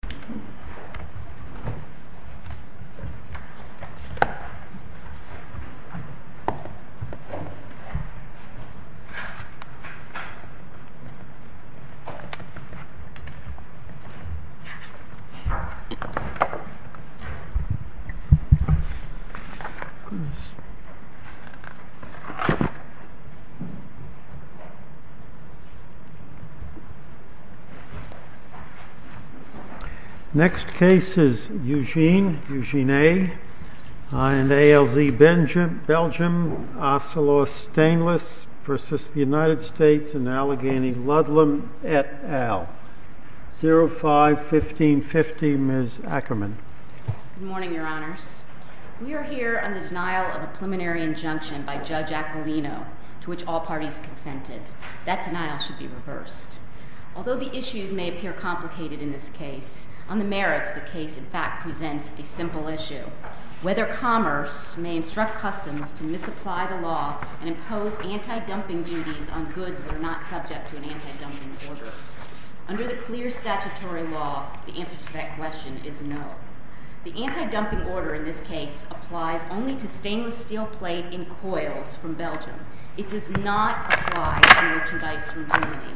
The cat on the table does a nice shimmery meticulous gesture which raises the cat. Next case is Eugene, Eugene A., and ALZ Belgium, Ocelot Stainless versus the United States and Allegheny Ludlam et al. 05-1550, Ms. Ackerman. Good morning, your honors. We are here on the denial of a preliminary injunction by Judge Aquilino, to which all parties consented. That denial should be reversed. Although the issues may appear complicated in this case, on the merits, the case in fact presents a simple issue. Whether commerce may instruct customs to misapply the law and impose anti-dumping duties on goods that are not subject to an anti-dumping order. Under the clear statutory law, the answer to that question is no. The anti-dumping order in this case applies only to stainless steel plate in coils from Belgium. It does not apply to merchandise from Germany.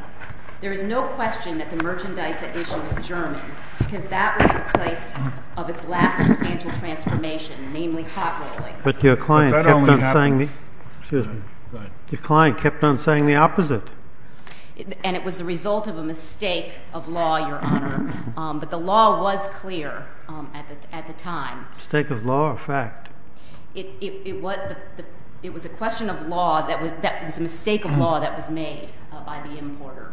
There is no question that the merchandise at issue was German, because that was the place of its last substantial transformation, namely hot rolling. But your client kept on saying the opposite. And it was the result of a mistake of law, your honor. But the law was clear at the time. Mistake of law or fact? It was a question of law that was a mistake of law that was made by the importer.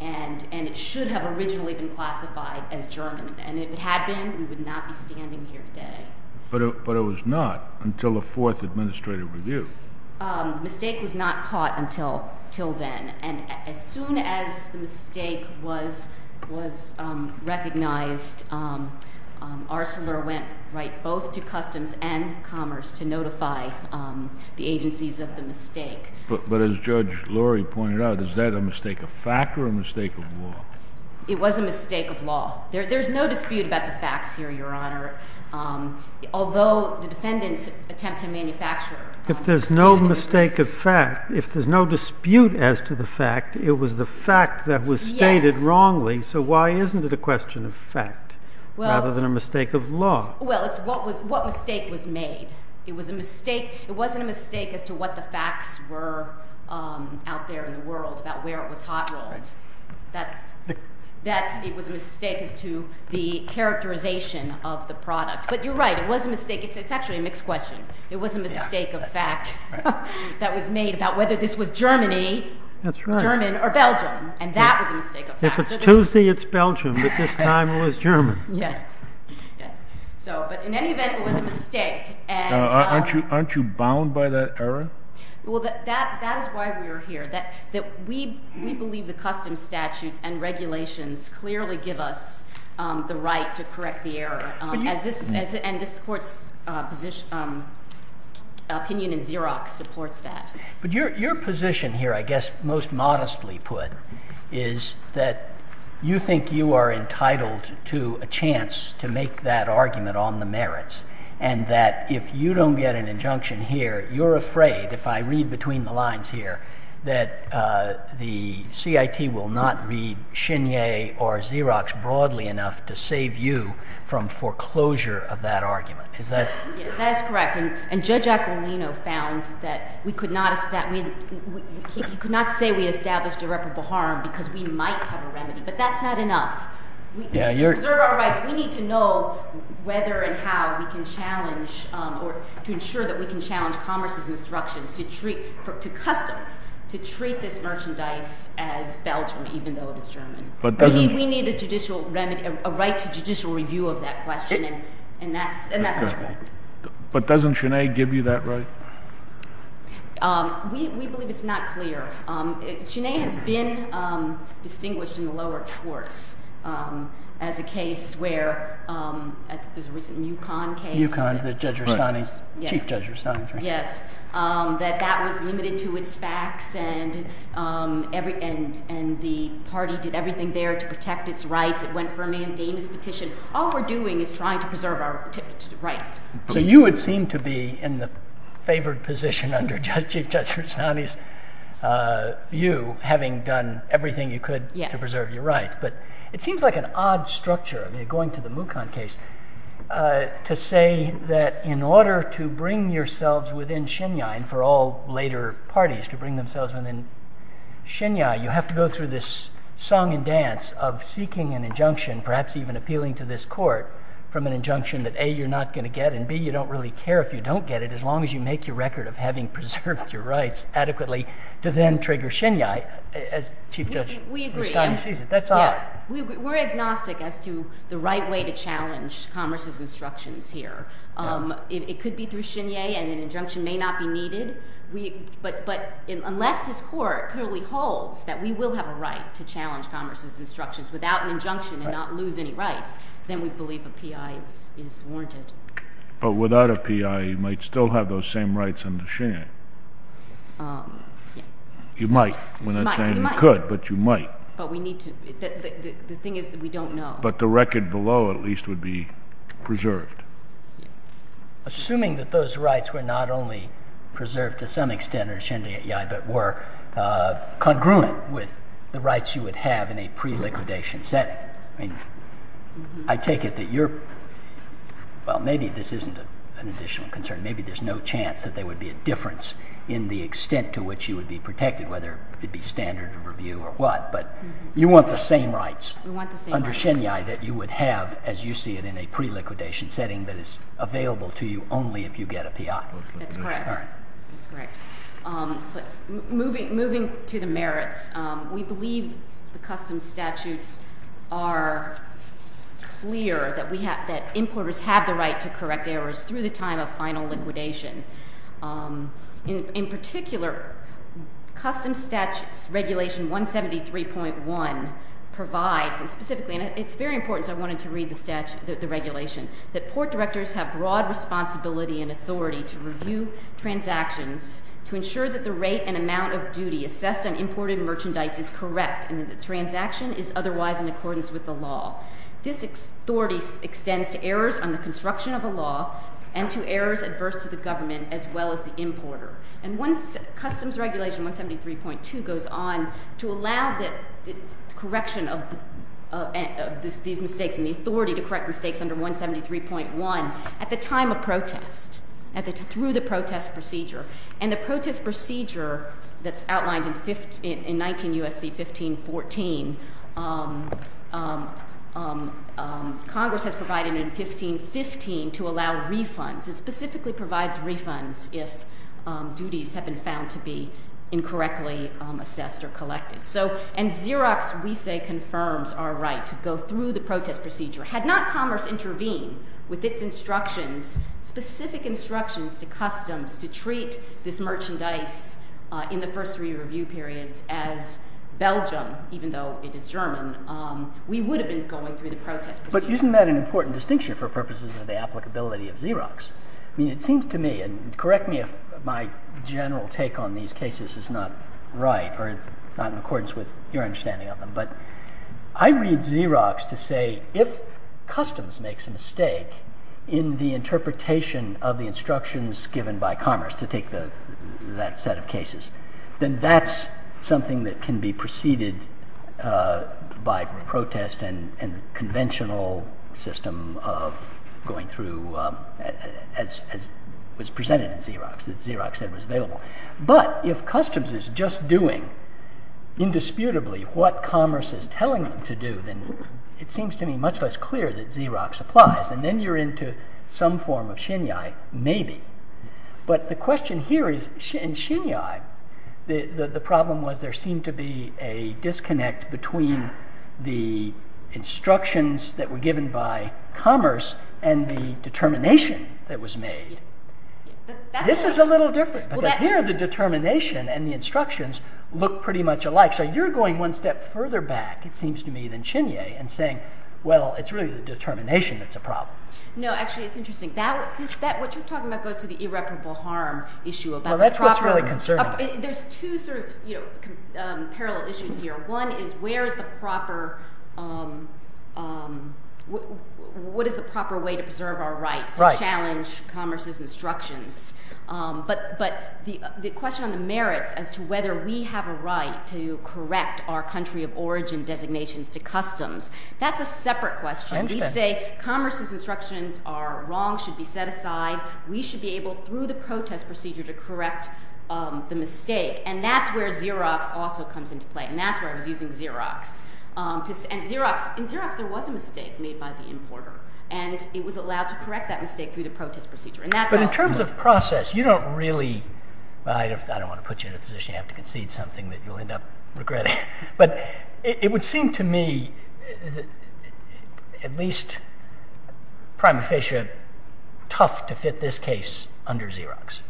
And it should have originally been classified as German. And if it had been, we would not be standing here today. But it was not until the fourth administrative review. Mistake was not caught until then. And as soon as the mistake was recognized, Arcelor went right both to Customs and Commerce to notify the agencies of the mistake. But as Judge Lurie pointed out, is that a mistake of fact or a mistake of law? It was a mistake of law. There's no dispute about the facts here, your honor. Although the defendants attempt to manufacture If there's no mistake of fact, if there's no dispute as to the fact, it was the fact that was stated wrongly. So why isn't it a question of fact rather than a mistake of law? Well, it's what mistake was made. It was a mistake. It wasn't a mistake as to what the facts were out there in the world about where it was hot rolled. It was a mistake as to the characterization of the product. But you're right, it was a mistake. It's actually a mixed question. It was a mistake of fact that was made about whether this was Germany, German, or Belgium. And that was a mistake of fact. If it's Tuesday, it's Belgium, but this time it was German. Yes. So but in any event, it was a mistake. Aren't you bound by that error? Well, that is why we are here. That we believe the custom statutes and regulations clearly give us the right to correct the error. And this court's opinion in Xerox supports that. But your position here, I guess most modestly put, is that you think you are entitled to a chance to make that argument on the merits. And that if you don't get an injunction here, you're afraid, if I read between the lines here, that the CIT will not read Chenier or Xerox broadly enough to save you from foreclosure of that argument. Is that? Yes, that is correct. And Judge Aquilino found that we could not establish, he could not say we established irreparable harm because we might have a remedy. But that's not enough. To preserve our rights, we need to know whether and how we can challenge, or to ensure that we can challenge commerce's instructions to customs to treat this merchandise as Belgium, even though it is German. We need a judicial remedy, a right to judicial review of that question. And that's our point. But doesn't Chenier give you that right? We believe it's not clear. Chenier has been distinguished in the lower courts as a case where, I think there's a recent Yukon case. Yukon, the Judge Rustani's, Chief Judge Rustani's, right? Yes. That that was limited to its facts, and the party did everything there to protect its rights. It went firmly in Dana's petition. All we're doing is trying to preserve our rights. So you would seem to be in the favored position under Chief Judge Rustani's view, having done everything you could to preserve your rights. But it seems like an odd structure, going to the Mukon case, to say that in order to bring yourselves within Chenier, and for all later parties to bring themselves within Chenier, you have to go through this song and dance of seeking an injunction, perhaps even appealing to this court, from an injunction that A, you're not going to get, and B, you don't really care if you don't get it, as long as you make your record of having preserved your rights adequately, to then trigger Chenier, as Chief Judge Rustani sees it. That's odd. We're agnostic as to the right way to challenge Congress's instructions here. It could be through Chenier, and an injunction may not be needed. But unless this court clearly holds that we will have a right to challenge Congress's injunction and not lose any rights, then we believe a P.I. is warranted. But without a P.I., you might still have those same rights under Chenier. You might, when they're saying you could, but you might. But we need to, the thing is that we don't know. But the record below, at least, would be preserved. Assuming that those rights were not only preserved to some extent under Chenier, but were congruent with the rights you would have in a pre-liquidation setting. I mean, I take it that you're, well, maybe this isn't an additional concern. Maybe there's no chance that there would be a difference in the extent to which you would be protected, whether it be standard of review or what. But you want the same rights under Chenier that you would have, as you see it, in a pre-liquidation setting that is available to you only if you get a P.I. That's correct, that's correct. But moving to the merits. We believe the custom statutes are clear that importers have the right to correct errors through the time of final liquidation. In particular, custom statutes regulation 173.1 provides, and specifically, and it's very important, so I wanted to read the regulation, that port directors have broad responsibility and authority to review transactions to ensure that the rate and amount of duty assessed on imported merchandise is correct and that the transaction is otherwise in accordance with the law. This authority extends to errors on the construction of a law and to errors adverse to the government as well as the importer. And once customs regulation 173.2 goes on to allow the correction of these mistakes and the authority to correct mistakes under 173.1 at the time of protest, through the protest procedure. And the protest procedure that's outlined in 19 U.S.C. 1514, Congress has provided in 1515 to allow refunds. It specifically provides refunds if duties have been found to be incorrectly assessed or collected. And Xerox, we say, confirms our right to go through the protest procedure. Had not commerce intervened with its instructions, specific instructions to customs to treat this merchandise in the first three review periods as Belgium, even though it is German, we would have been going through the protest procedure. But isn't that an important distinction for purposes of the applicability of Xerox? I mean, it seems to me, and correct me if my general take on these cases is not right or not in accordance with your understanding of them, but I read Xerox to say, if customs makes a mistake in the interpretation of the instructions given by commerce to take that set of cases, then that's something that can be preceded by protest and conventional system of going through as was presented in Xerox, that Xerox said was available. But if customs is just doing indisputably what commerce is telling them to do, then it seems to me much less clear that Xerox applies. And then you're into some form of Xinyai, maybe. But the question here is, in Xinyai, the problem was there seemed to be a disconnect between the instructions that were given by commerce and the determination that was made. This is a little different, because here the determination and the instructions look pretty much alike. So you're going one step further back, it seems to me, than Xinyai in saying, well, it's really the determination that's a problem. No, actually, it's interesting. What you're talking about goes to the irreparable harm issue about the proper. Well, that's what's really concerning. There's two sort of parallel issues here. One is, what is the proper way to preserve our rights, to challenge commerce's instructions? But the question on the merits as to whether we have a right to correct our country of origin designations to customs, that's a separate question. We say commerce's instructions are wrong, should be set aside. We should be able, through the protest procedure, to correct the mistake. And that's where Xerox also comes into play. And that's where I was using Xerox. And in Xerox, there was a mistake made by the importer. And it was allowed to correct that mistake through the protest procedure. And that's how- In terms of process, you don't really, well, I don't want to put you in a position you have to concede something that you'll end up regretting. But it would seem to me, at least, prime officiate, tough to fit this case under Xerox.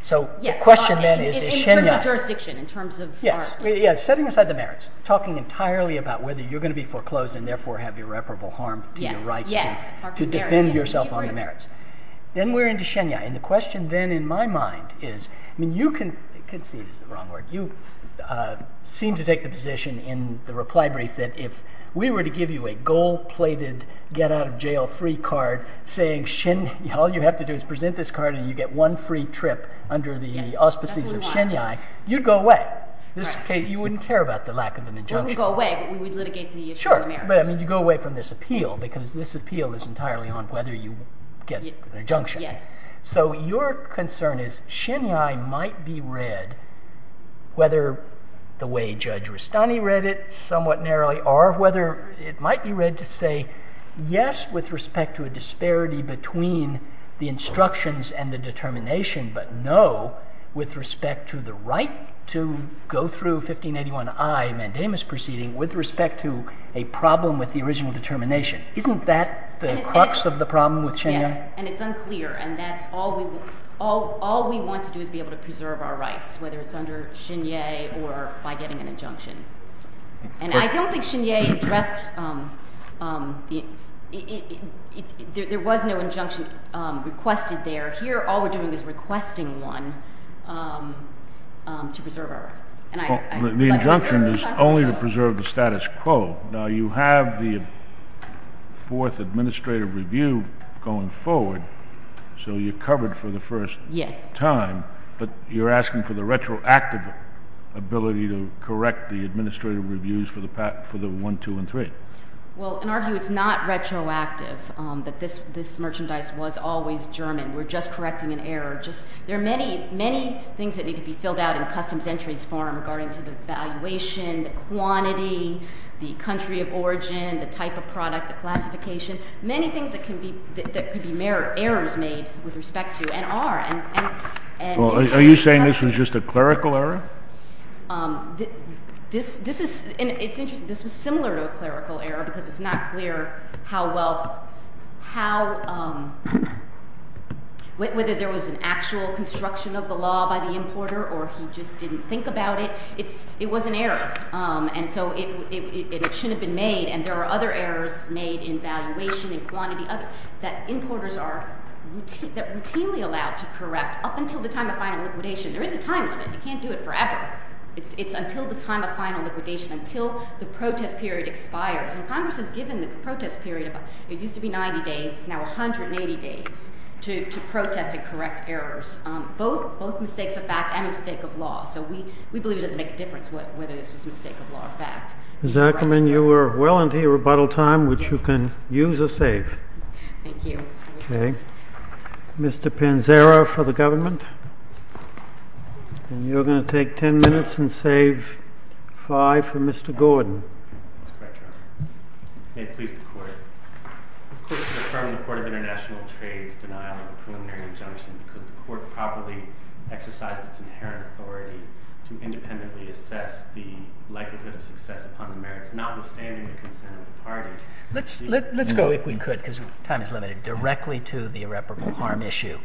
So the question then is- In terms of jurisdiction, in terms of- Yes, setting aside the merits, talking entirely about whether you're gonna be foreclosed and therefore have irreparable harm to your rights to defend yourself on the merits. Then we're into Xenia. And the question then, in my mind, is, I mean, you can, concede is the wrong word. You seem to take the position in the reply brief that if we were to give you a gold-plated, get out of jail free card saying Xenia, all you have to do is present this card and you get one free trip under the auspices of Xenia, you'd go away. This case, you wouldn't care about the lack of an injunction. We would go away, but we would litigate the- Sure, but I mean, you go away from this appeal because this appeal is entirely on whether you get an injunction. Yes. So your concern is Xenia might be read, whether the way Judge Rustani read it, somewhat narrowly, or whether it might be read to say, yes, with respect to a disparity between the instructions and the determination, but no, with respect to the right to go through 1581I mandamus proceeding with respect to a problem with the original determination. Isn't that the crux of the problem with Xenia? Yes, and it's unclear. And that's all we want to do is be able to preserve our rights, whether it's under Xenia or by getting an injunction. And I don't think Xenia addressed, there was no injunction requested there. Here, all we're doing is requesting one to preserve our rights. The injunction is only to preserve the status quo. Now, you have the fourth administrative review going forward, so you're covered for the first time, but you're asking for the retroactive ability to correct the administrative reviews for the one, two, and three. Well, in our view, it's not retroactive that this merchandise was always German. We're just correcting an error. There are many, many things that need to be filled out in customs entries form regarding to the valuation, the quantity, the country of origin, the type of product, the classification, many things that could be errors made with respect to and are. Are you saying this was just a clerical error? This is, and it's interesting, this was similar to a clerical error because it's not clear how well, how, whether there was an actual construction of the law by the importer or he just didn't think about it. It was an error, and so it shouldn't have been made, and there are other errors made in valuation, in quantity, that importers are routinely allowed to correct up until the time of final liquidation. There is a time limit. You can't do it forever. It's until the time of final liquidation, until the protest period expires, and Congress has given the protest period, it used to be 90 days, it's now 180 days, to protest and correct errors, both mistakes of fact and mistake of law, so we believe it doesn't make a difference whether this was mistake of law or fact. Zuckerman, you are well into your rebuttal time, which you can use or save. Thank you. Okay. Mr. Panzera for the government. And you're gonna take 10 minutes and save five for Mr. Gordon. That's correct, Your Honor. May it please the court. This court should affirm the Court of International Trade's denial of a preliminary injunction because the court properly exercised its inherent authority to independently assess the likelihood of success upon the merits, notwithstanding the concern of the parties. Let's go, if we could, because time is limited, directly to the irreparable harm issue.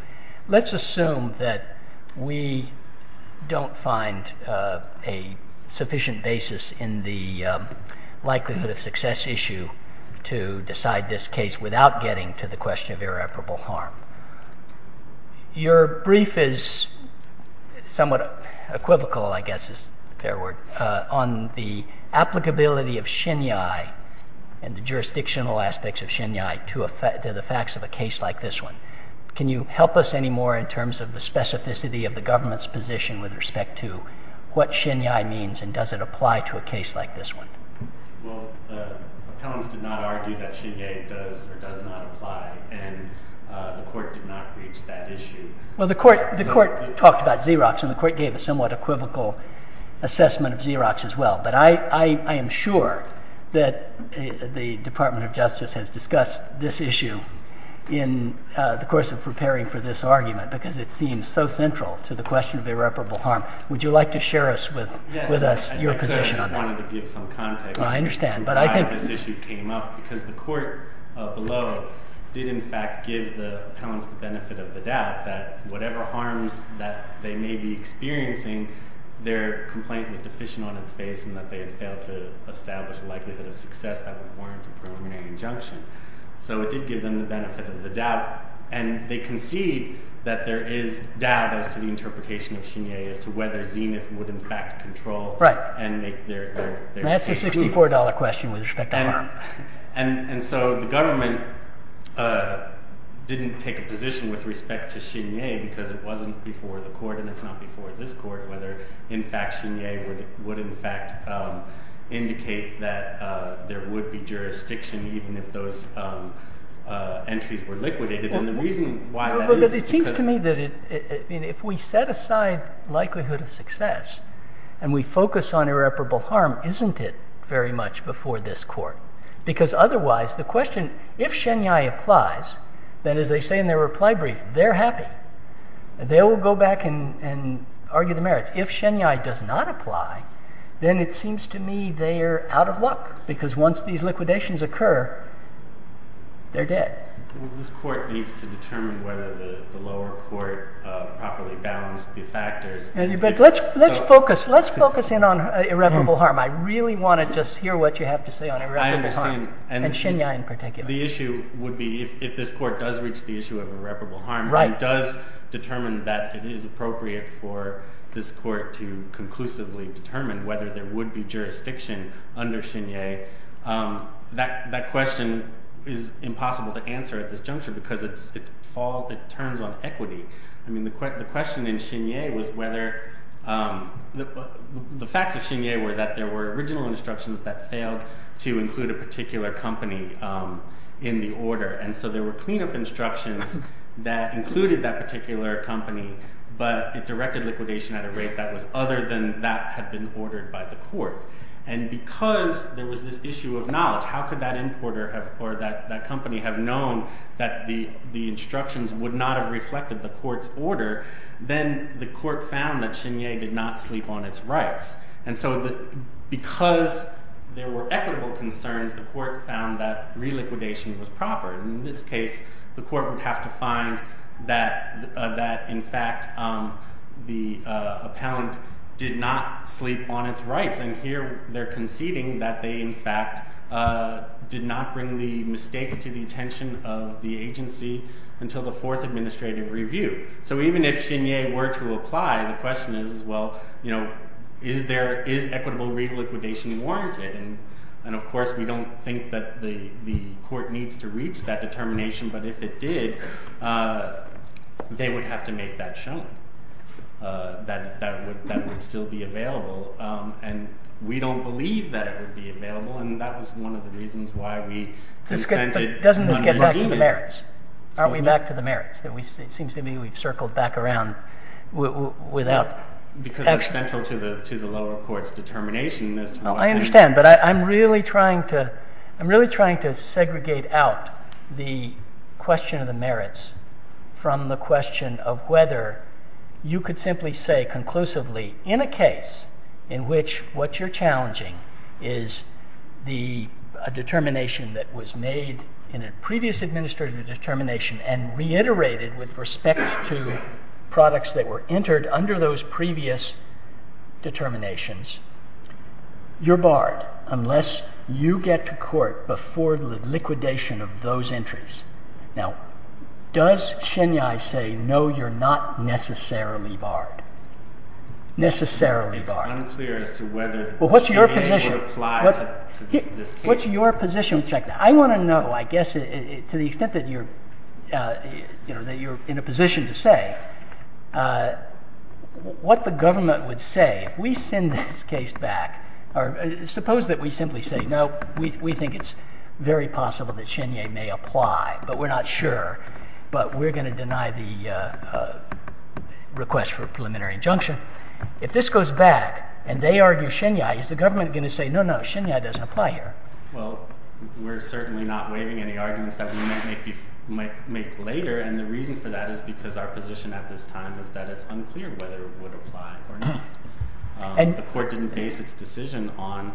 Let's assume that we don't find a sufficient basis in the likelihood of success issue to decide this case without getting to the question of irreparable harm. Your brief is somewhat equivocal, I guess is a fair word, on the applicability of Xinyi and the jurisdictional aspects of Xinyi to the facts of a case like this one. Can you help us any more in terms of the specificity of the government's position with respect to what Xinyi means and does it apply to a case like this one? Well, the appellants did not argue that Xinyi does or does not apply. And the court did not reach that issue. Well, the court talked about Xerox and the court gave a somewhat equivocal assessment of Xerox as well. But I am sure that the Department of Justice has discussed this issue in the course of preparing for this argument, because it seems so central to the question of irreparable harm. Would you like to share with us your position on that? I just wanted to give some context to why this issue came up, because the court below did in fact give the appellants the benefit of the doubt that whatever harms that they may be experiencing, their complaint was deficient on its face and that they had failed to establish a likelihood of success that would warrant a preliminary injunction. So it did give them the benefit of the doubt. And they concede that there is doubt as to the interpretation of Xinyi as to whether Zenith would in fact control and make their case accountable. It's a $4 question with respect to harm. And so the government didn't take a position with respect to Xinyi because it wasn't before the court and it's not before this court, whether in fact Xinyi would in fact indicate that there would be jurisdiction even if those entries were liquidated. And the reason why that is because- It seems to me that if we set aside likelihood of success and we focus on irreparable harm, isn't it very much before this court? Because otherwise the question, if Xinyi applies, then as they say in their reply brief, they're happy. They will go back and argue the merits. If Xinyi does not apply, then it seems to me they're out of luck because once these liquidations occur, they're dead. This court needs to determine whether the lower court properly balanced the factors. Let's focus in on irreparable harm. I really want to just hear what you have to say on irreparable harm. And Xinyi in particular. The issue would be if this court does reach the issue of irreparable harm and does determine that it is appropriate for this court to conclusively determine whether there would be jurisdiction under Xinyi, that question is impossible to answer at this juncture because it turns on equity. I mean, the question in Xinyi was whether, the facts of Xinyi were that there were original instructions that failed to include a particular company in the order. And so there were cleanup instructions that included that particular company, but it directed liquidation at a rate that was other than that had been ordered by the court. And because there was this issue of knowledge, how could that importer or that company have known that the instructions would not have reflected the court's order, then the court found that Xinyi did not sleep on its rights. And so because there were equitable concerns, the court found that reliquidation was proper. In this case, the court would have to find that in fact, the appellant did not sleep on its rights. And here they're conceding that they in fact did not bring the mistake to the attention of the agency until the fourth administrative review. So even if Xinyi were to apply, the question is, well, is equitable reliquidation warranted? And of course, we don't think that the court needs to reach that determination, but if it did, they would have to make that shown, that would still be available. And we don't believe that it would be available. And that was one of the reasons why we consented. Doesn't this get back to the merits? Aren't we back to the merits? It seems to me we've circled back around without. Because it's central to the lower court's determination. I understand, but I'm really trying to, I'm really trying to segregate out the question of the merits from the question of whether you could simply say conclusively in a case in which what you're challenging is a determination that was made in a previous administrative determination and reiterated with respect to products that were entered under those previous determinations, you're barred unless you get to court before the liquidation of those entries. Now, does Xinyi say, no, you're not necessarily barred? Necessarily barred. It's unclear as to whether Xinyi would apply to this case. What's your position on the fact that? I want to know, I guess, to the extent that you're in a position to say, what the government would say if we send this case back, or suppose that we simply say, no, we think it's very possible that Xinyi may apply, but we're not sure, but we're going to deny the request for a preliminary injunction. If this goes back and they argue Xinyi, is the government going to say, no, no, Xinyi doesn't apply here? Well, we're certainly not waiving any arguments that we might make later. And the reason for that is because our position at this time is that it's unclear whether it would apply or not. The court didn't base its decision on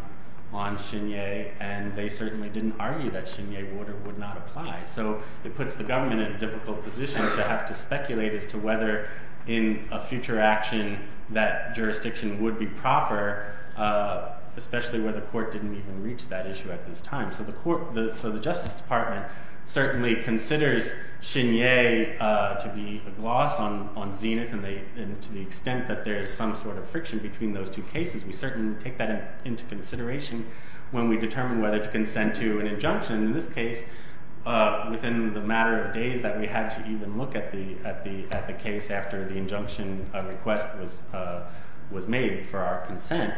Xinyi, and they certainly didn't argue that Xinyi would or would not apply. So it puts the government in a difficult position to have to speculate as to whether in a future action that jurisdiction would be proper, especially where the court didn't even reach that issue at this time. So the court, so the Justice Department certainly considers Xinyi to be a gloss on Zenith, and to the extent that there's some sort of friction between those two cases, we certainly take that into consideration when we determine whether to consent to an injunction. In this case, within the matter of days that we had to even look at the case after the injunction request was made for our consent,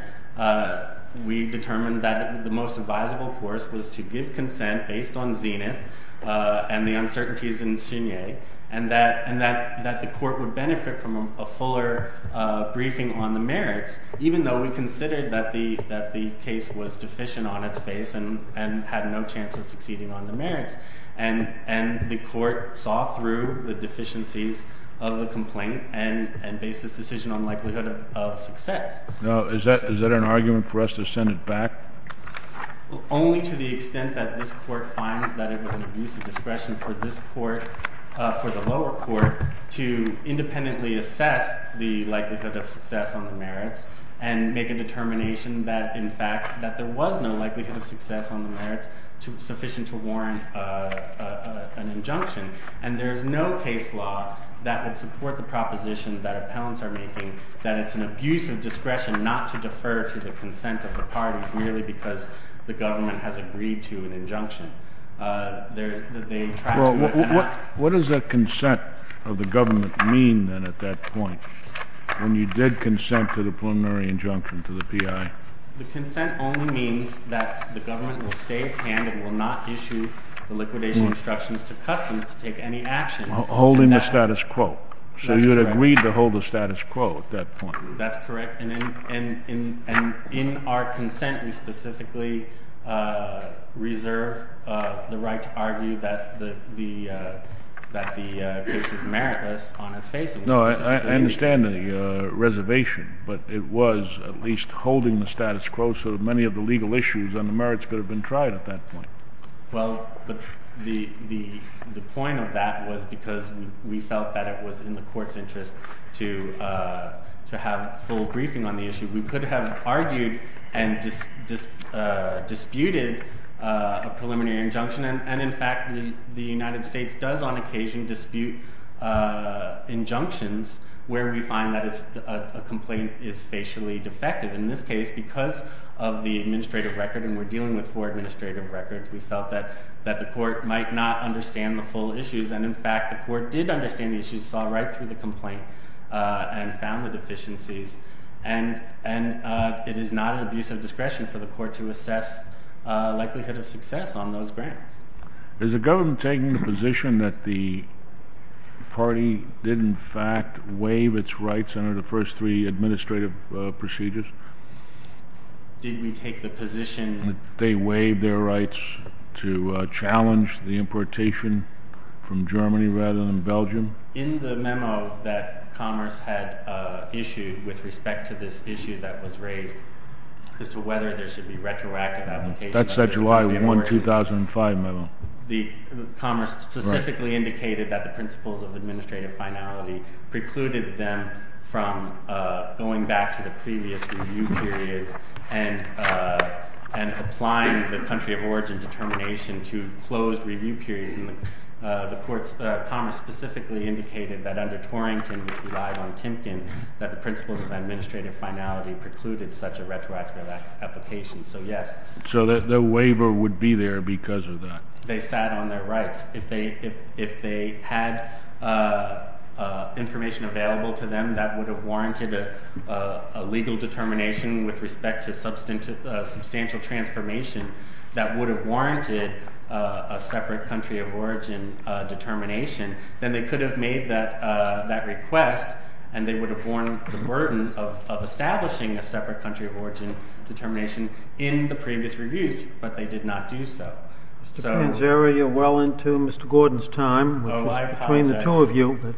we determined that the most advisable course was to give consent based on Zenith and the uncertainties in Xinyi, and that the court would benefit from a fuller briefing on the merits, even though we considered that the case was deficient on its face and had no chance of succeeding on the merits. And the court saw through the deficiencies of the complaint and based its decision on likelihood of success. Now, is that an argument for us to send it back? Only to the extent that this court finds that it was an abuse of discretion for this court, for the lower court, to independently assess the likelihood of success on the merits and make a determination that, in fact, that there was no likelihood of success on the merits sufficient to warrant an injunction. And there's no case law that would support the proposition that appellants are making that it's an abuse of discretion not to defer to the consent of the parties merely because the government has agreed to an injunction. What does that consent of the government mean then at that point, when you did consent to the preliminary injunction to the PI? The consent only means that the government will stay its hand and will not issue the liquidation instructions to customs to take any action. Well, holding the status quo. So you had agreed to hold the status quo at that point. That's correct, and in our consent, we specifically reserve the right to argue that the case is meritless on its face. No, I understand the reservation, but it was at least holding the status quo so that many of the legal issues on the merits could have been tried at that point. Well, the point of that was because we felt that it was in the court's interest to have full briefing on the issue. We could have argued and disputed a preliminary injunction, and in fact, the United States does on occasion dispute injunctions where we find that a complaint is facially defective. In this case, because of the administrative record, and we're dealing with four administrative records, we felt that the court might not understand the full issues, and in fact, the court did understand the issues, saw right through the complaint and found the deficiencies, and it is not an abuse of discretion for the court to assess likelihood of success on those grants. Is the government taking the position that the party did in fact waive its rights under the first three administrative procedures? Did we take the position that they waived their rights to challenge the importation from Germany rather than Belgium? In the memo that Commerce had issued with respect to this issue that was raised as to whether there should be retroactive applications of this kind of a merger. That's that July 1, 2005 memo. The Commerce specifically indicated that the principles of administrative finality precluded them from going back to the previous review periods and applying the country of origin determination to closed review periods, and the Commerce specifically indicated that under Torrington, which relied on Timken, that the principles of administrative finality precluded such a retroactive application, so yes. So the waiver would be there because of that. They sat on their rights. If they had information available to them that would have warranted a legal determination with respect to substantial transformation that would have warranted a separate country of origin determination, then they could have made that request and they would have borne the burden of establishing a separate country of origin determination in the previous reviews, but they did not do so. So- Mr. Panzeri, you're well into Mr. Gordon's time. Oh, I apologize. Between the two of you. Go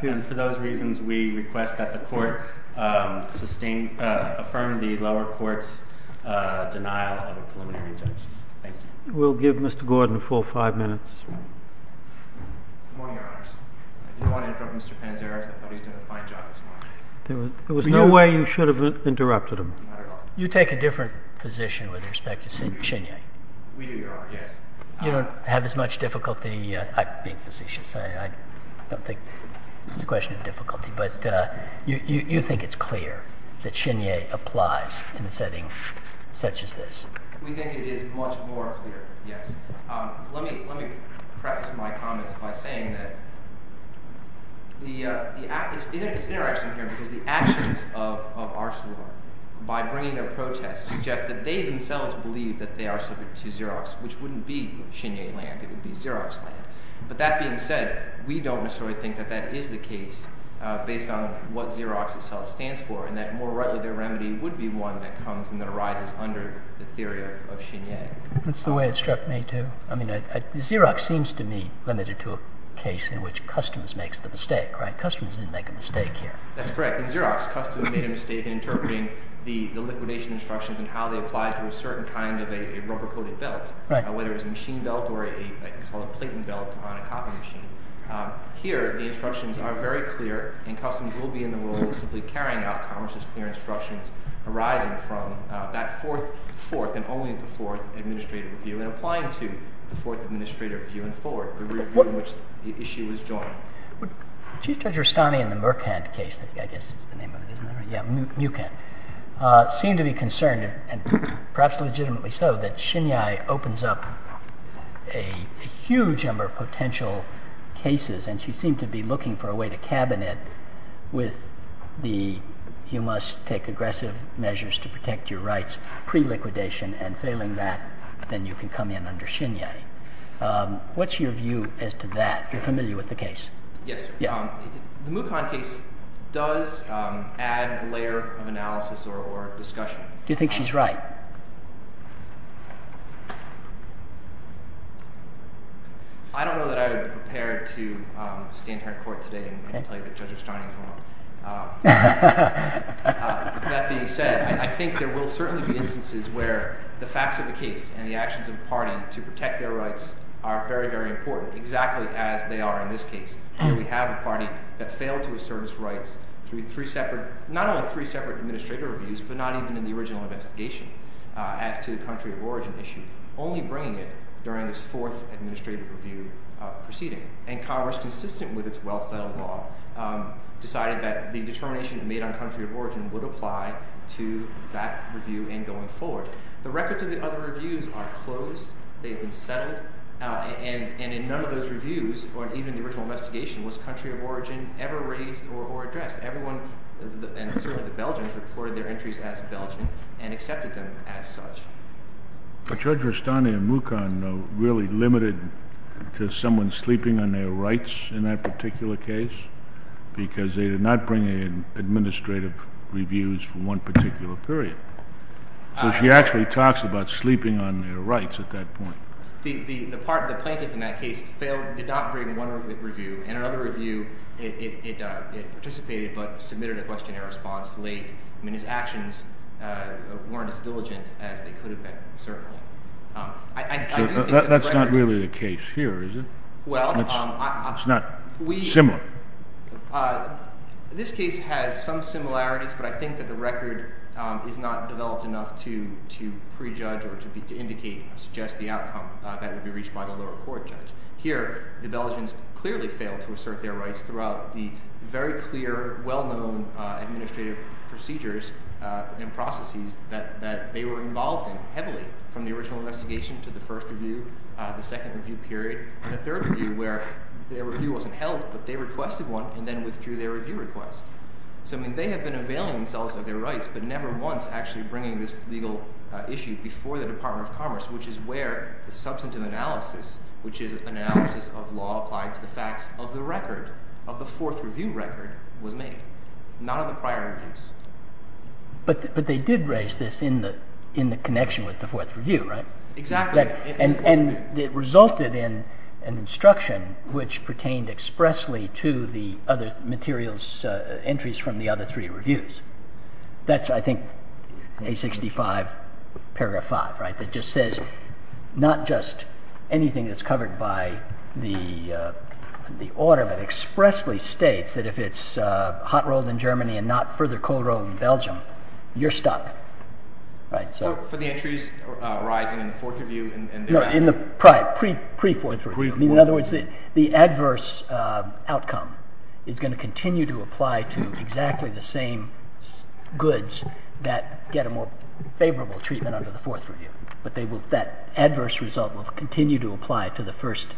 ahead. For those reasons, we request that the court affirm the lower court's denial of a preliminary judgment. Thank you. We'll give Mr. Gordon a full five minutes. Good morning, Your Honors. I do want to interrupt Mr. Panzeri, I think he's done a fine job this morning. There was no way you should have interrupted him. You take a different position with respect to Shinyai. We do, Your Honor, yes. You don't have as much difficulty, I think, as he should say, I don't think it's a question of difficulty, but you think it's clear that Shinyai applies in a setting such as this? We think it is much more clear, yes. Let me preface my comments by saying that it's interesting here because the actions of Arcelor by bringing a protest suggests that they themselves believe that they are subject to Xerox, which wouldn't be Shinyai land, I think it would be Xerox land. But that being said, we don't necessarily think that that is the case based on what Xerox itself stands for and that more rightly, their remedy would be one that comes and that arises under the theory of Shinyai. That's the way it struck me too. I mean, Xerox seems to me limited to a case in which customs makes the mistake, right? Customs didn't make a mistake here. That's correct. In Xerox, customs made a mistake in interpreting the liquidation instructions and how they applied to a certain kind of a rubber-coated belt, whether it was a machine belt or a platen belt on a coffee machine. Here, the instructions are very clear and customs will be in the role of simply carrying out commerce's clear instructions arising from that fourth and only the fourth administrative review and applying to the fourth administrative review and forward, the review in which the issue is joined. Chief Judge Rustani in the Murcan case, I guess is the name of it, isn't it? Yeah, Mucan, seemed to be concerned and perhaps legitimately so that Xinyai opens up a huge number of potential cases and she seemed to be looking for a way to cabin it with the, you must take aggressive measures to protect your rights pre-liquidation and failing that, then you can come in under Xinyai. What's your view as to that? You're familiar with the case. Yes, the Mucan case does add a layer of analysis or discussion. Do you think she's right? I don't know that I would be prepared to stand here in court today and tell you that Judge Rustani is wrong. With that being said, I think there will certainly be instances where the facts of the case and the actions of the party to protect their rights are very, very important, exactly as they are in this case. Here we have a party that failed to assert its rights through three separate, not only three separate administrative reviews, but not even in the original investigation as to the country of origin issue, only bringing it during this fourth administrative review proceeding. And Congress, consistent with its well-settled law, decided that the determination made on country of origin would apply to that review and going forward. The records of the other reviews are closed. They've been settled and in none of those reviews or even the original investigation was country of origin ever raised or addressed. Everyone, and certainly the Belgians, reported their entries as Belgian and accepted them as such. But Judge Rustani and Mukon really limited to someone sleeping on their rights in that particular case, because they did not bring in administrative reviews for one particular period. So she actually talks about sleeping on their rights at that point. The part, the plaintiff in that case failed, did not bring one review, and another review, it participated, but submitted a questionnaire response late. I mean, his actions weren't as diligent as they could have been, certainly. I do think that the record- That's not really the case here, is it? Well, I- It's not similar. This case has some similarities, but I think that the record is not developed enough to prejudge or to indicate or suggest the outcome that would be reached by the lower court judge. Here, the Belgians clearly failed to assert their rights throughout the very clear, well-known administrative procedures and processes that they were involved in heavily, from the original investigation to the first review, the second review period, and the third review, where their review wasn't held, but they requested one, and then withdrew their review request. So, I mean, they have been availing themselves of their rights, but never once actually bringing this legal issue before the Department of Commerce, which is where the substantive analysis, which is an analysis of law applied to the facts of the record, of the fourth review record, was made. None of the prior reviews. But they did raise this in the connection with the fourth review, right? Exactly. And it resulted in an instruction which pertained expressly to the other materials, entries from the other three reviews. That's, I think, A65, paragraph five, right? That just says, not just anything that's covered by the order, but expressly states that if it's hot-rolled in Germany and not further cold-rolled in Belgium, you're stuck, right? So, for the entries arising in the fourth review, and the- No, in the prior, pre-fourth review. I mean, in other words, the adverse outcome is gonna continue to apply to exactly the same goods that get a more favorable treatment under the fourth review. But that adverse result will continue to apply to the first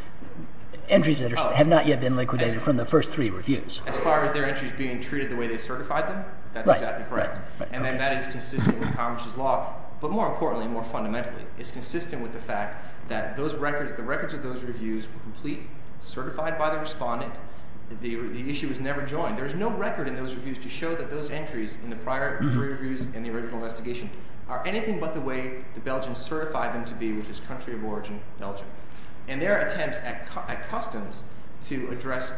entries that have not yet been liquidated from the first three reviews. As far as their entries being treated the way they certified them, that's exactly correct. And then that is consistent with Congress's law, but more importantly, more fundamentally, it's consistent with the fact that those records, the records of those reviews were complete, certified by the respondent, the issue was never joined. There's no record in those reviews to show that those entries in the prior three reviews in the original investigation are anything but the way the Belgians certified them to be, which is country of origin, Belgium. And their attempts at customs, to address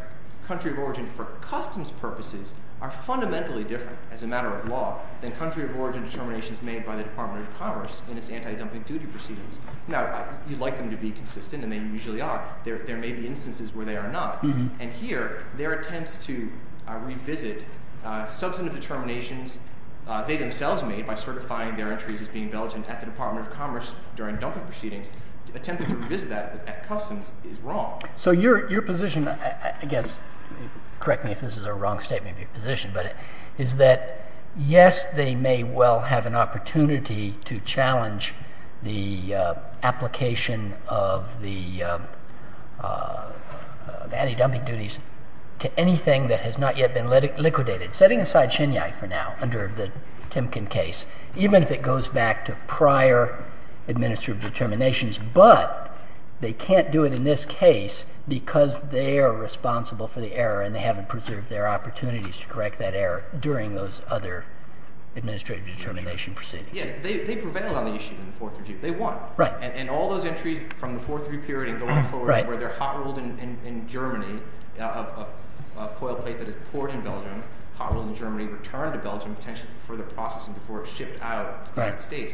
country of origin for customs purposes, are fundamentally different as a matter of law than country of origin determinations made by the Department of Commerce in its anti-dumping duty proceedings. Now, you'd like them to be consistent, and they usually are. There may be instances where they are not. And here, their attempts to revisit substantive determinations they themselves made by certifying their entries as being Belgian at the Department of Commerce during dumping proceedings, attempting to revisit that at customs is wrong. So your position, I guess, correct me if this is a wrong statement of your position, but is that yes, they may well have an opportunity to challenge the application of the anti-dumping duties to anything that has not yet been liquidated. Setting aside Chinyai for now, under the Timken case, even if it goes back to prior administrative determinations, but they can't do it in this case because they are responsible for the error and they haven't preserved their opportunities to correct that error during those other administrative determination proceedings. Yes, they prevailed on the issue in the 4-3G. They won. And all those entries from the 4-3 period and going forward where they're hot-rolled in Germany, a coil plate that is poured in Belgium, hot-rolled in Germany, returned to Belgium, potentially for the processing before it shipped out to the United States.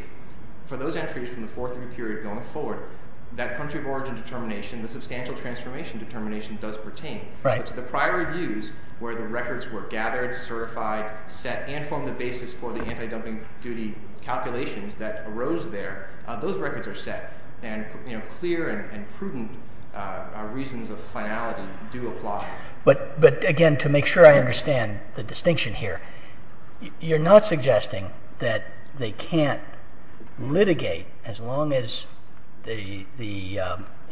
For those entries from the 4-3 period going forward, that country of origin determination, the substantial transformation determination does pertain. But to the prior reviews where the records were gathered, certified, set, and formed the basis for the anti-dumping duty calculations that arose there, those records are set. And clear and prudent reasons of finality do apply. But again, to make sure I understand the distinction here, you're not suggesting that they can't litigate as long as the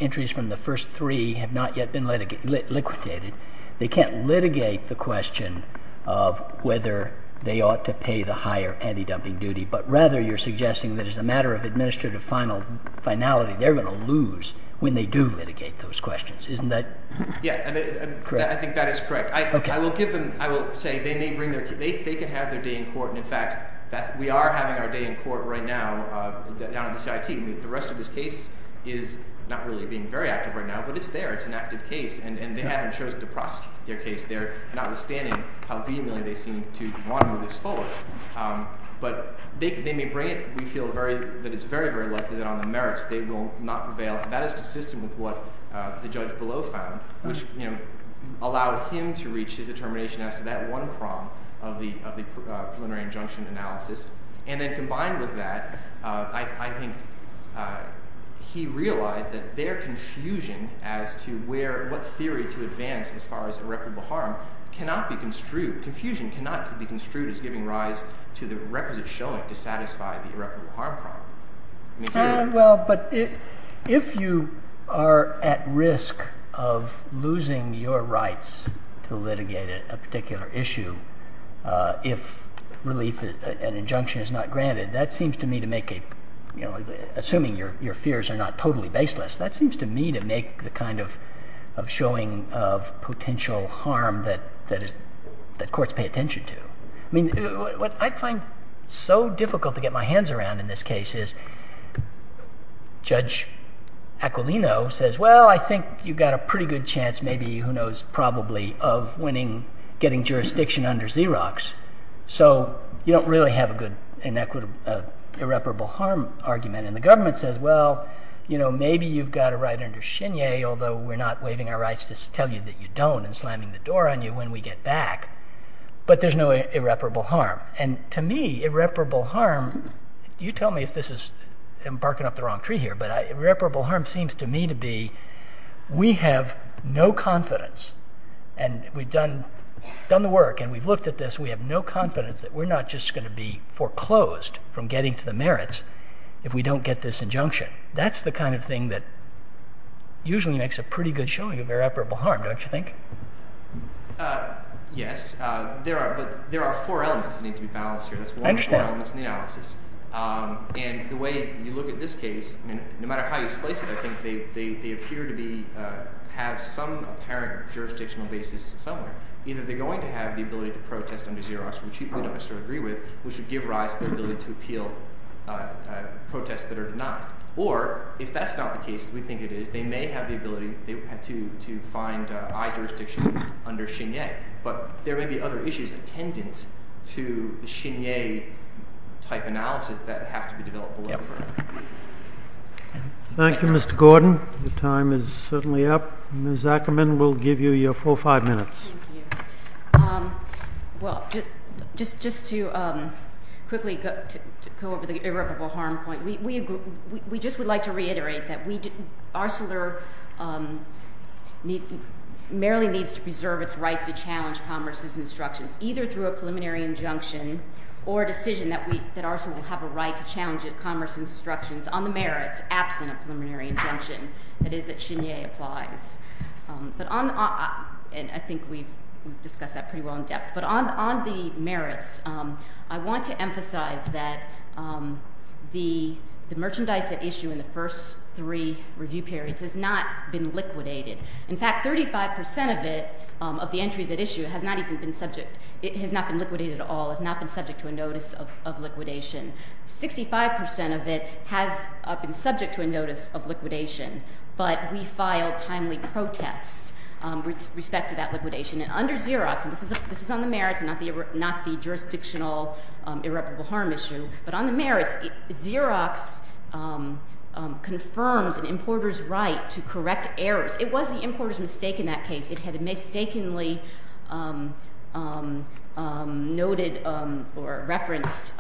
entries from the first three have not yet been liquidated. They can't litigate the question of whether they ought to pay the higher anti-dumping duty. But rather you're suggesting that as a matter of administrative finality, they're going to lose when they do litigate those questions. Isn't that? Yeah, I think that is correct. I will give them, I will say they may bring their, they can have their day in court. And in fact, we are having our day in court right now down at the CIT. The rest of this case is not really being very active right now, but it's there. It's an active case. And they haven't chosen to prosecute their case there, notwithstanding how vehemently they seem to want to move this forward. But they may bring it. We feel that it's very, very likely that on the merits they will not prevail. That is consistent with what the judge below found, which allowed him to reach his determination as to that one prong of the preliminary injunction analysis. And then combined with that, I think he realized that their confusion as to where, what theory to advance as far as irreparable harm cannot be construed. Confusion cannot be construed as giving rise to the requisite showing to satisfy the irreparable harm problem. Well, but if you are at risk of losing your rights to litigate a particular issue, if relief, an injunction is not granted, that seems to me to make a... Assuming your fears are not totally baseless, that seems to me to make the kind of showing of potential harm that courts pay attention to. I mean, what I find so difficult to get my hands around in this case is Judge Aquilino says, well, I think you've got a pretty good chance, maybe, who knows, probably of winning, getting jurisdiction under Xerox. So you don't really have a good inequitable, irreparable harm argument. And the government says, well, maybe you've got a right under Shinye, although we're not waiving our rights to tell you that you don't and slamming the door on you when we get back. But there's no irreparable harm. And to me, irreparable harm, you tell me if this is, I'm barking up the wrong tree here, but irreparable harm seems to me to be, we have no confidence and we've done the work and we've looked at this, we have no confidence that we're not just gonna be foreclosed from getting to the merits if we don't get this injunction. That's the kind of thing that usually makes a pretty good showing of irreparable harm, don't you think? Yes, but there are four elements that need to be balanced here. That's one of the four elements in the analysis. And the way you look at this case, no matter how you slice it, I think they appear to be, have some apparent jurisdictional basis somewhere. Either they're going to have the ability to protest under Xerox, which we don't necessarily agree with, which would give rise to the ability to appeal protests that are denied. Or if that's not the case, we think it is, they may have the ability, they would have to find eye jurisdiction under Chenier, but there may be other issues attendant to the Chenier type analysis that have to be developed below. Thank you, Mr. Gordon. Your time is certainly up. Ms. Ackerman will give you your four or five minutes. Thank you. Well, just to quickly go over the irreparable harm point, we just would like to reiterate that Arcelor merely needs to preserve its rights to challenge commerce's instructions, either through a preliminary injunction or a decision that Arcelor will have a right to challenge its commerce instructions on the merits absent of preliminary injunction, that is that Chenier applies. But on, and I think we've discussed that pretty well in depth, but on the merits, I want to emphasize that the merchandise at issue in the first three review periods has not been liquidated. In fact, 35% of it, of the entries at issue, has not even been subject, it has not been liquidated at all, it's not been subject to a notice of liquidation. 65% of it has been subject to a notice of liquidation, but we filed timely protests with respect to that liquidation. And under Xerox, and this is on the merits and not the jurisdictional irreparable harm issue, but on the merits, Xerox confirms an importer's right to correct errors. It was the importer's mistake in that case, it had mistakenly noted or referenced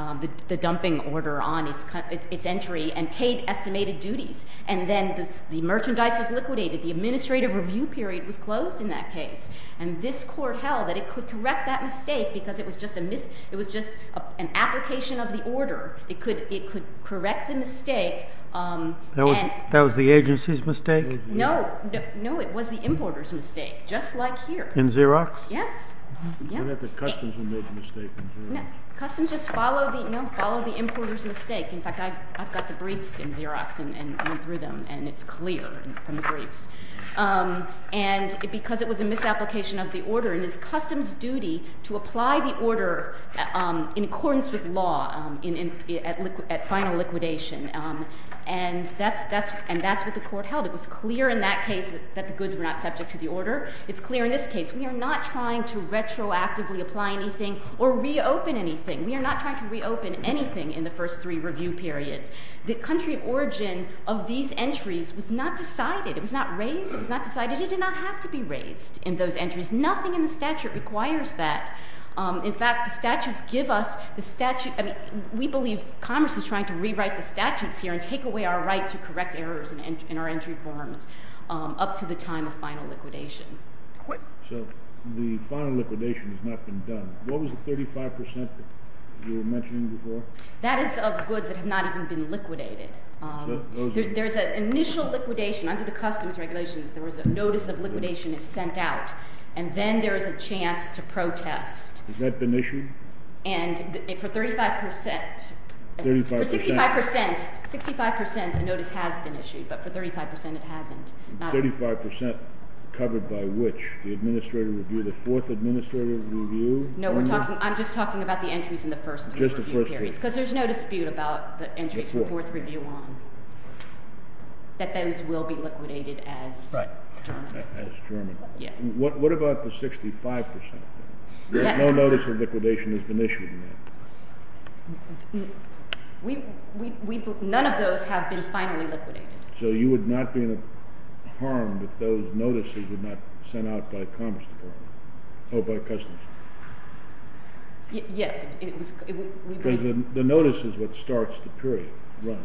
the dumping order on its entry and paid estimated duties. And then the merchandise was liquidated, the administrative review period was closed in that case. And this court held that it could correct that mistake because it was just a mis, it was just an application of the order. It could correct the mistake. And- That was the agency's mistake? No, no, it was the importer's mistake, just like here. In Xerox? Yes, yeah. What about the customs who made the mistake in Xerox? Customs just follow the, you know, follow the importer's mistake. In fact, I've got the briefs in Xerox and went through them and it's clear from the briefs. And because it was a misapplication of the order and it's customs duty to apply the order in accordance with law at final liquidation. And that's what the court held. It was clear in that case that the goods were not subject to the order. It's clear in this case. We are not trying to retroactively apply anything or reopen anything. We are not trying to reopen anything in the first three review periods. The country of origin of these entries was not decided. It was not raised, it was not decided. It did not have to be raised in those entries. Nothing in the statute requires that. In fact, the statutes give us the statute. I mean, we believe Congress is trying to rewrite the statutes here and take away our right to correct errors in our entry forms up to the time of final liquidation. So the final liquidation has not been done. What was the 35% that you were mentioning before? That is of goods that have not even been liquidated. There's an initial liquidation under the customs regulations. There was a notice of liquidation is sent out and then there is a chance to protest. Has that been issued? And for 35%, for 65%, 65%, a notice has been issued, but for 35%, it hasn't. 35% covered by which? The administrative review, the fourth administrative review? No, we're talking, I'm just talking about the entries in the first three review periods, because there's no dispute about the entries for fourth review on, that those will be liquidated as German. As German. What about the 65%? There's no notice of liquidation has been issued yet. None of those have been finally liquidated. So you would not be in harm if those notices were not sent out by commerce department? Oh, by customs? Yes, it was. The notice is what starts the period, right?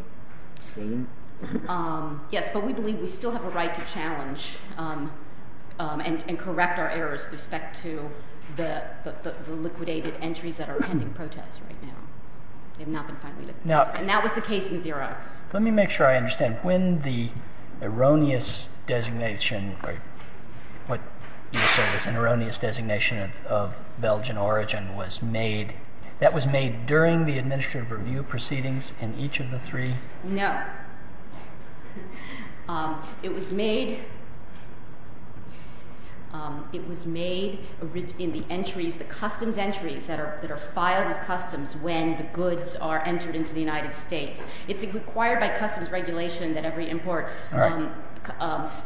Yes, but we believe we still have a right to challenge and correct our errors with respect to the liquidated entries that are pending protests right now. They have not been finally liquidated. And that was the case in Xerox. Let me make sure I understand. When the erroneous designation, or what you said was an erroneous designation of Belgian origin was made, that was made during the administrative review proceedings in each of the three? No. No. It was made in the entries, the customs entries that are filed with customs when the goods are entered into the United States. It's required by customs regulation that every import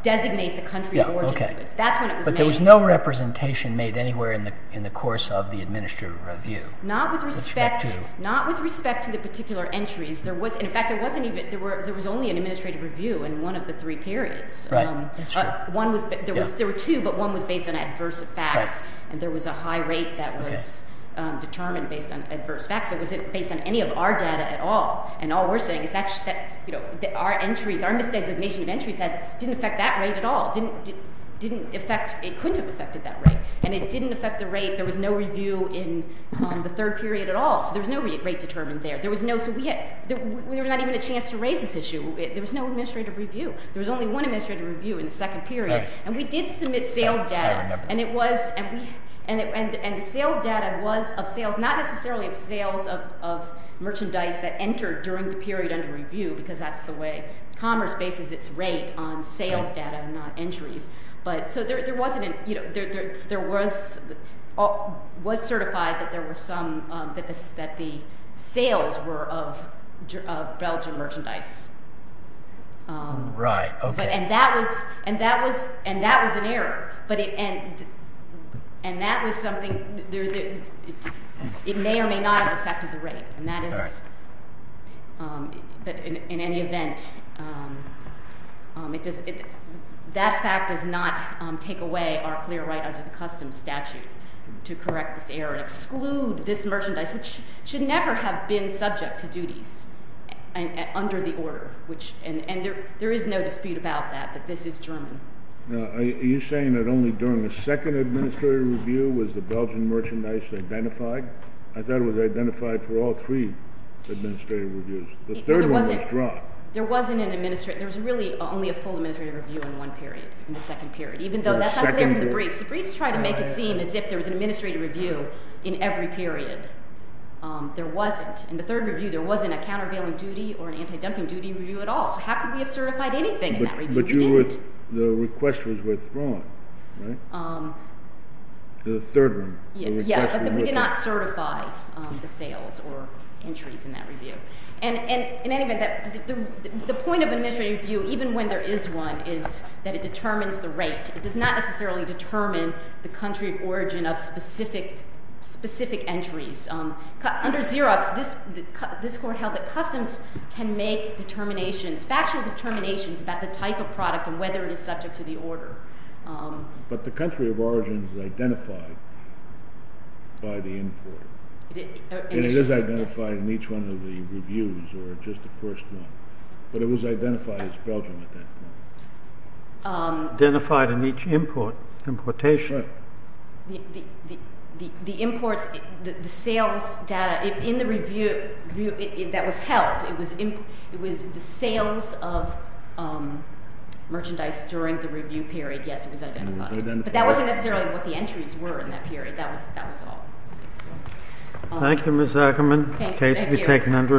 designates a country of origin. That's when it was made. But there was no representation made anywhere in the course of the administrative review? Not with respect to the particular entries. In fact, there was only an administrative review in one of the three periods. Right, that's true. There were two, but one was based on adverse facts. And there was a high rate that was determined based on adverse facts. It wasn't based on any of our data at all. And all we're saying is that our entries, our misdesignation of entries didn't affect that rate at all. It couldn't have affected that rate. And it didn't affect the rate, there was no review in the third period at all. So there was no rate determined there. So we were not even a chance to raise this issue. There was no administrative review. There was only one administrative review in the second period. And we did submit sales data. And it was, and the sales data was of sales, not necessarily of sales of merchandise that entered during the period under review, because that's the way commerce bases its rate on sales data and not entries. But so there was certified that there were some, that the sales were of Belgian merchandise. Right, okay. And that was an error. But, and that was something, it may or may not have affected the rate. And that is, but in any event, that fact does not take away our clear right under the custom statutes to correct this error and exclude this merchandise, which should never have been subject to duties under the order, which, and there is no dispute about that, that this is German. Now, are you saying that only during the second administrative review was the Belgian merchandise identified? I thought it was identified for all three administrative reviews. The third one was dropped. There wasn't an administrative, there was really only a full administrative review in one period, in the second period, even though that's not clear from the briefs. The briefs try to make it seem as if there was an administrative review in every period. There wasn't. In the third review, there wasn't a countervailing duty or an anti-dumping duty review at all. So how could we have certified anything in that review? We didn't. But the request was withdrawn, right? The third one. Yeah, but we did not certify the sales or entries in that review. And in any event, the point of administrative review, even when there is one, is that it determines the rate. It does not necessarily determine the country of origin of specific entries. Under Xerox, this court held that customs can make determinations, factual determinations, about the type of product and whether it is subject to the order. But the country of origin is identified by the import. And it is identified in each one of the reviews or just the first one. But it was identified as Belgian at that point. Identified in each import, importation. The imports, the sales data in the review, that was held. It was the sales of merchandise during the review period. Yes, it was identified. But that wasn't necessarily what the entries were in that period. That was all. Thank you, Ms. Ackerman. The case will be taken under advisement.